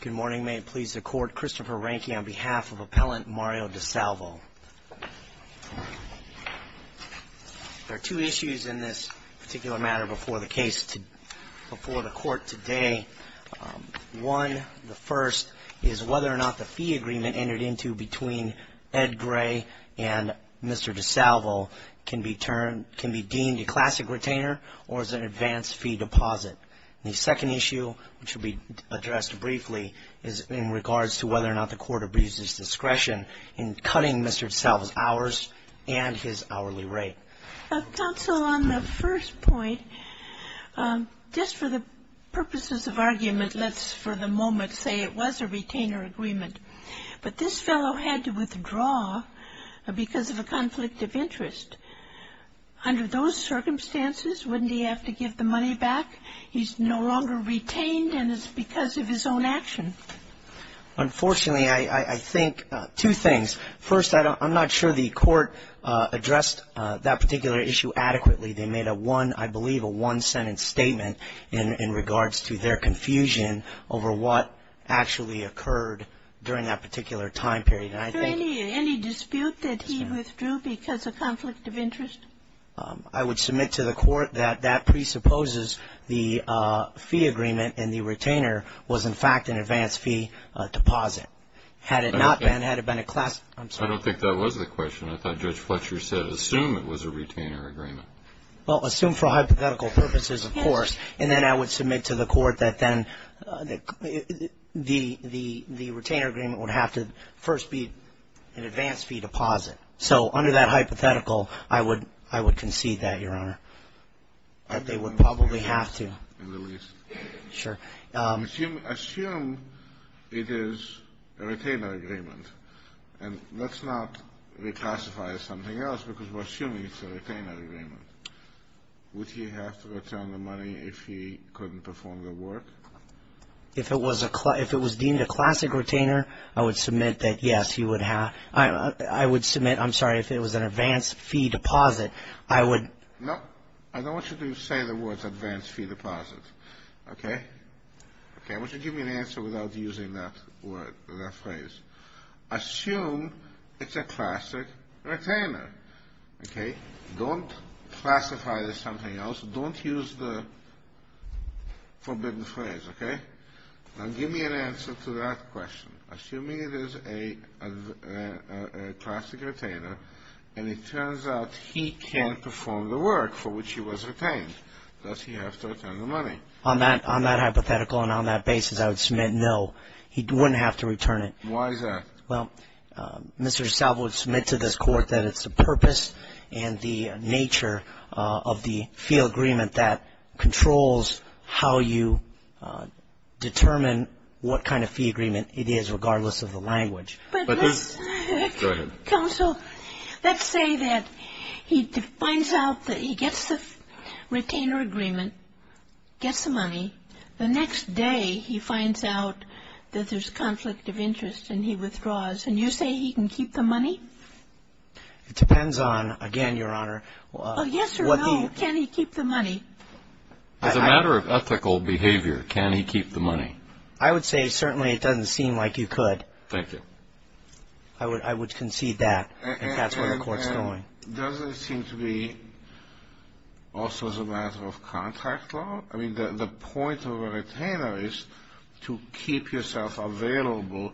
Good morning. May it please the Court, Christopher Rehnke on behalf of Appellant Mario DeSalvo. There are two issues in this particular matter before the case, before the Court today. One, the first, is whether or not the fee agreement entered into between Ed Gray and Mr. DeSalvo can be turned, can be deemed a classic retainer or as an advanced fee deposit. The second issue, which will be addressed briefly, is in regards to whether or not the Court abuses discretion in cutting Mr. DeSalvo's hours and his hourly rate. Counsel, on the first point, just for the purposes of argument, let's for the moment say it was a retainer agreement. But this fellow had to withdraw because of a conflict of interest. Under those circumstances, wouldn't he have to give the money back? He's no longer retained, and it's because of his own action. Unfortunately, I think two things. First, I'm not sure the Court addressed that particular issue adequately. They made a one, I believe, a one-sentence statement in regards to their confusion over what actually occurred during that particular time period. Are there any dispute that he withdrew because of conflict of interest? I would submit to the Court that that presupposes the fee agreement and the retainer was, in fact, an advanced fee deposit. Had it not been, had it been a classic ---- I don't think that was the question. I thought Judge Fletcher said assume it was a retainer agreement. Well, assume for hypothetical purposes, of course. And then I would submit to the Court that then the retainer agreement would have to first be an advanced fee deposit. So under that hypothetical, I would concede that, Your Honor, that they would probably have to. In the least. Sure. Assume it is a retainer agreement. And let's not reclassify as something else because we're assuming it's a retainer agreement. Would he have to return the money if he couldn't perform the work? If it was deemed a classic retainer, I would submit that, yes, he would have. I would submit, I'm sorry, if it was an advanced fee deposit, I would. No. I don't want you to say the words advanced fee deposit. Okay? Okay. I want you to give me an answer without using that phrase. Assume it's a classic retainer. Okay? Don't classify it as something else. Don't use the forbidden phrase. Okay? Now give me an answer to that question. Assuming it is a classic retainer and it turns out he can't perform the work for which he was retained, does he have to return the money? On that hypothetical and on that basis, I would submit no. He wouldn't have to return it. Why is that? Well, Mr. DeSalvo would submit to this Court that it's the purpose and the nature of the fee agreement that controls how you determine what kind of fee agreement it is regardless of the language. But this ---- Go ahead. Counsel, let's say that he finds out that he gets the retainer agreement, gets the money. The next day, he finds out that there's conflict of interest and he withdraws. And you say he can keep the money? It depends on, again, Your Honor, what the ---- Oh, yes or no, can he keep the money? As a matter of ethical behavior, can he keep the money? I would say certainly it doesn't seem like you could. Thank you. I would concede that. And that's where the Court's going. Well, doesn't it seem to be also as a matter of contract law? I mean, the point of a retainer is to keep yourself available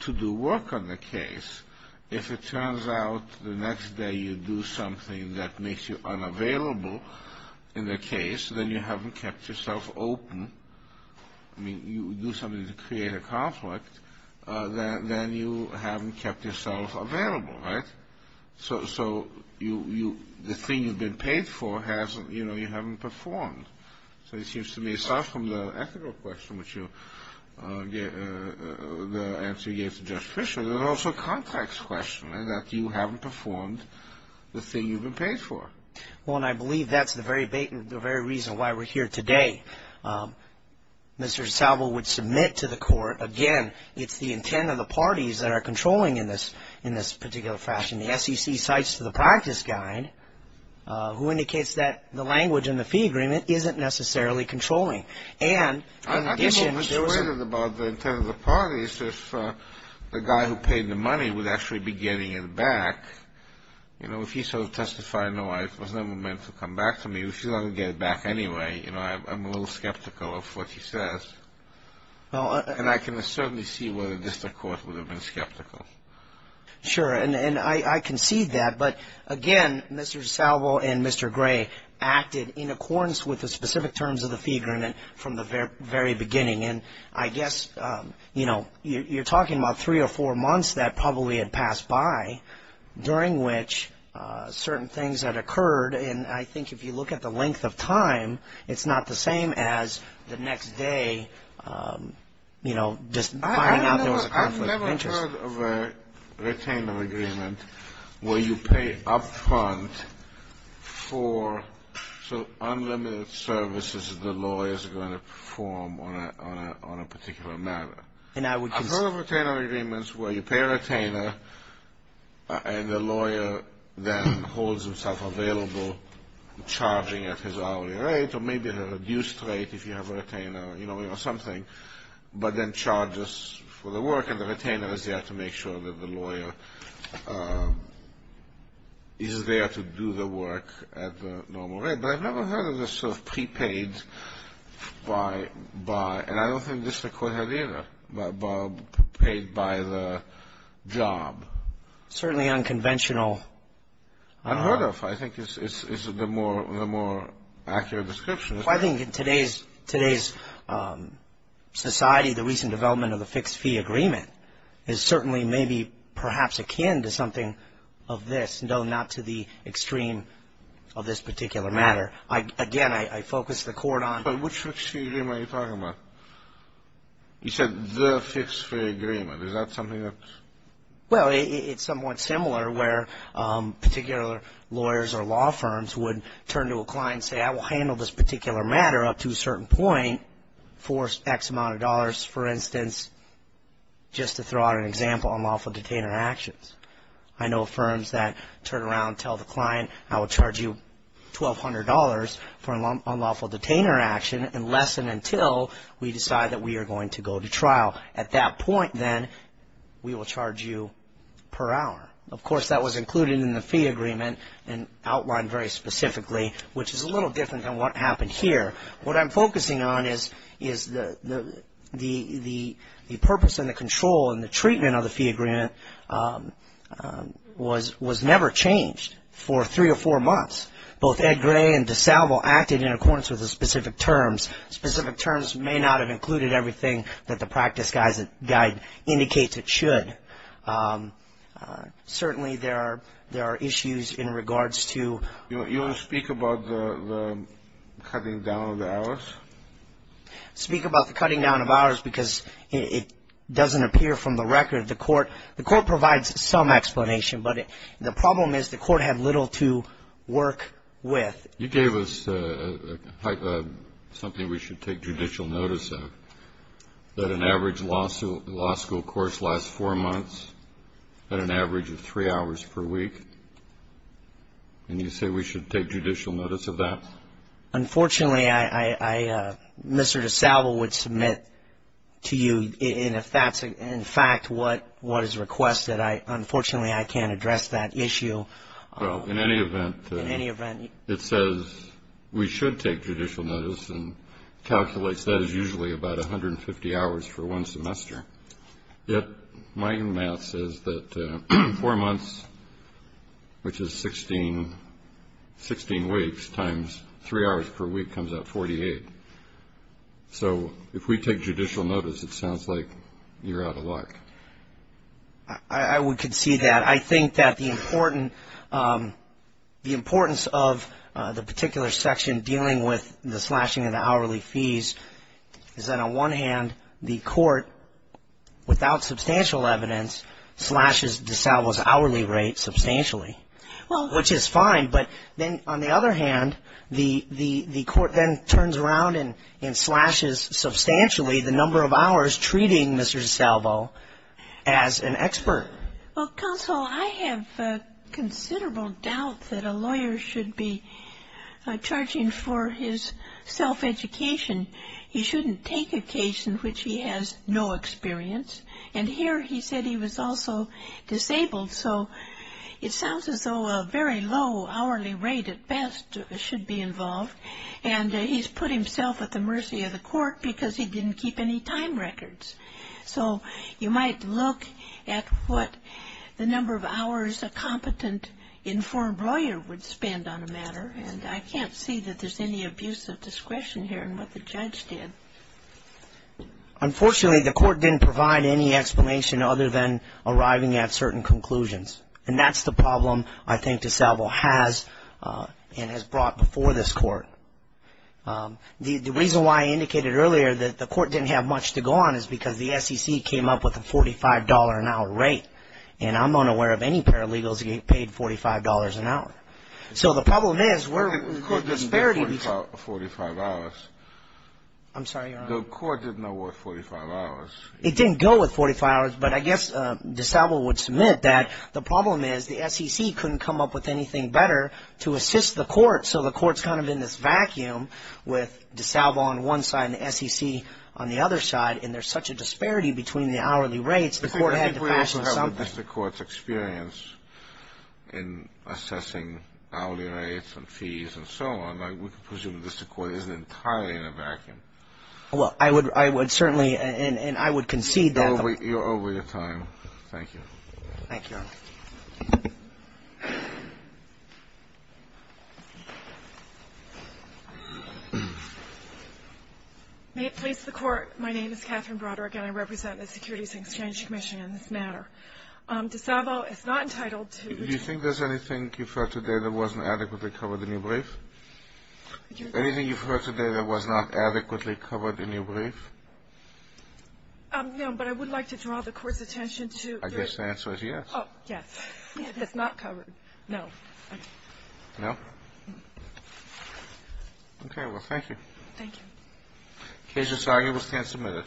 to do work on the case. If it turns out the next day you do something that makes you unavailable in the case, then you haven't kept yourself open. I mean, you do something to create a conflict, then you haven't kept yourself available, right? So the thing you've been paid for hasn't ---- you know, you haven't performed. So it seems to me, aside from the ethical question, which you ---- the answer you gave to Judge Fischer, there's also a contract question in that you haven't performed the thing you've been paid for. Well, and I believe that's the very reason why we're here today. Mr. Salvo would submit to the Court, again, it's the intent of the parties that are controlling in this particular fashion. The SEC cites to the practice guide, who indicates that the language in the fee agreement isn't necessarily controlling. And in addition to ---- I'm a little persuaded about the intent of the parties. If the guy who paid the money would actually be getting it back, you know, if he sort of testified, no, it was never meant to come back to me, if he's not going to get it back anyway, you know, I'm a little skeptical of what he says. And I can certainly see whether just the Court would have been skeptical. Sure. And I concede that. But, again, Mr. Salvo and Mr. Gray acted in accordance with the specific terms of the fee agreement from the very beginning. And I guess, you know, you're talking about three or four months that probably had passed by, during which certain things had occurred. And I think if you look at the length of time, it's not the same as the next day, you know, just finding out there was a conflict of interest. I've never heard of a retainer agreement where you pay up front for unlimited services that the lawyer is going to perform on a particular matter. I've heard of retainer agreements where you pay a retainer and the lawyer then holds himself available, charging at his hourly rate, or maybe at a reduced rate if you have a retainer, you know, or something, but then charges for the work and the retainer is there to make sure that the lawyer is there to do the work at the normal rate. But I've never heard of this sort of prepaid by, and I don't think this the Court had either, paid by the job. It's certainly unconventional. I've heard of. I think it's the more accurate description. I think in today's society, the recent development of the fixed fee agreement is certainly maybe perhaps akin to something of this, no, not to the extreme of this particular matter. Again, I focus the Court on. But which fixed fee agreement are you talking about? You said the fixed fee agreement. Is that something that? Well, it's somewhat similar where particular lawyers or law firms would turn to a client and say, I will handle this particular matter up to a certain point for X amount of dollars, for instance, just to throw out an example on lawful detainer actions. I know firms that turn around and tell the client, I will charge you $1,200 for an unlawful detainer action unless and until we decide that we are going to go to trial. At that point, then, we will charge you per hour. Of course, that was included in the fee agreement and outlined very specifically, which is a little different than what happened here. What I'm focusing on is the purpose and the control and the treatment of the fee agreement was never changed for three or four months. Both Ed Gray and DeSalvo acted in accordance with the specific terms. Specific terms may not have included everything that the practice guide indicates it should. Certainly, there are issues in regards to. You want to speak about the cutting down of the hours? Speak about the cutting down of hours because it doesn't appear from the record. The court provides some explanation, but the problem is the court had little to work with. You gave us something we should take judicial notice of, that an average law school course lasts four months at an average of three hours per week, and you say we should take judicial notice of that? Unfortunately, Mr. DeSalvo would submit to you, and if that's in fact what is requested, unfortunately, I can't address that issue. Well, in any event, it says we should take judicial notice and calculates that as usually about 150 hours for one semester. Yet, my math says that four months, which is 16 weeks, times three hours per week comes out 48. So if we take judicial notice, it sounds like you're out of luck. I would concede that. I think that the importance of the particular section dealing with the slashing of the hourly fees is that, on one hand, the court, without substantial evidence, slashes DeSalvo's hourly rate substantially, which is fine. But then, on the other hand, the court then turns around and slashes substantially the number of hours treating Mr. DeSalvo as an expert. Well, counsel, I have considerable doubt that a lawyer should be charging for his self-education. He shouldn't take a case in which he has no experience, and here he said he was also disabled. So it sounds as though a very low hourly rate at best should be involved, and he's put himself at the mercy of the court because he didn't keep any time records. So you might look at what the number of hours a competent, informed lawyer would spend on a matter, and I can't see that there's any abuse of discretion here in what the judge did. Unfortunately, the court didn't provide any explanation other than arriving at certain conclusions, and that's the problem I think DeSalvo has and has brought before this court. The reason why I indicated earlier that the court didn't have much to go on is because the SEC came up with a $45 an hour rate, and I'm unaware of any paralegals who get paid $45 an hour. So the problem is we're at a disparity. The court didn't go with 45 hours. I'm sorry, Your Honor. The court didn't go with 45 hours. It didn't go with 45 hours, but I guess DeSalvo would submit that the problem is the SEC couldn't come up with anything better to assist the court, so the court's kind of in this vacuum with DeSalvo on one side and the SEC on the other side, and there's such a disparity between the hourly rates, the court had to fashion something. But I think we also have the district court's experience in assessing hourly rates and fees and so on. I would presume the district court isn't entirely in a vacuum. Well, I would certainly, and I would concede that. Thank you. Thank you, Your Honor. May it please the Court, my name is Catherine Broderick, and I represent the Securities and Exchange Commission in this matter. DeSalvo is not entitled to ---- Do you think there's anything you've heard today that wasn't adequately covered in your brief? Anything you've heard today that was not adequately covered in your brief? No, but I would like to draw the court's attention to ---- I guess the answer is yes. Oh, yes. It's not covered. No. Okay. No? No. Okay. Well, thank you. Thank you. The case is argued. We stand submitted.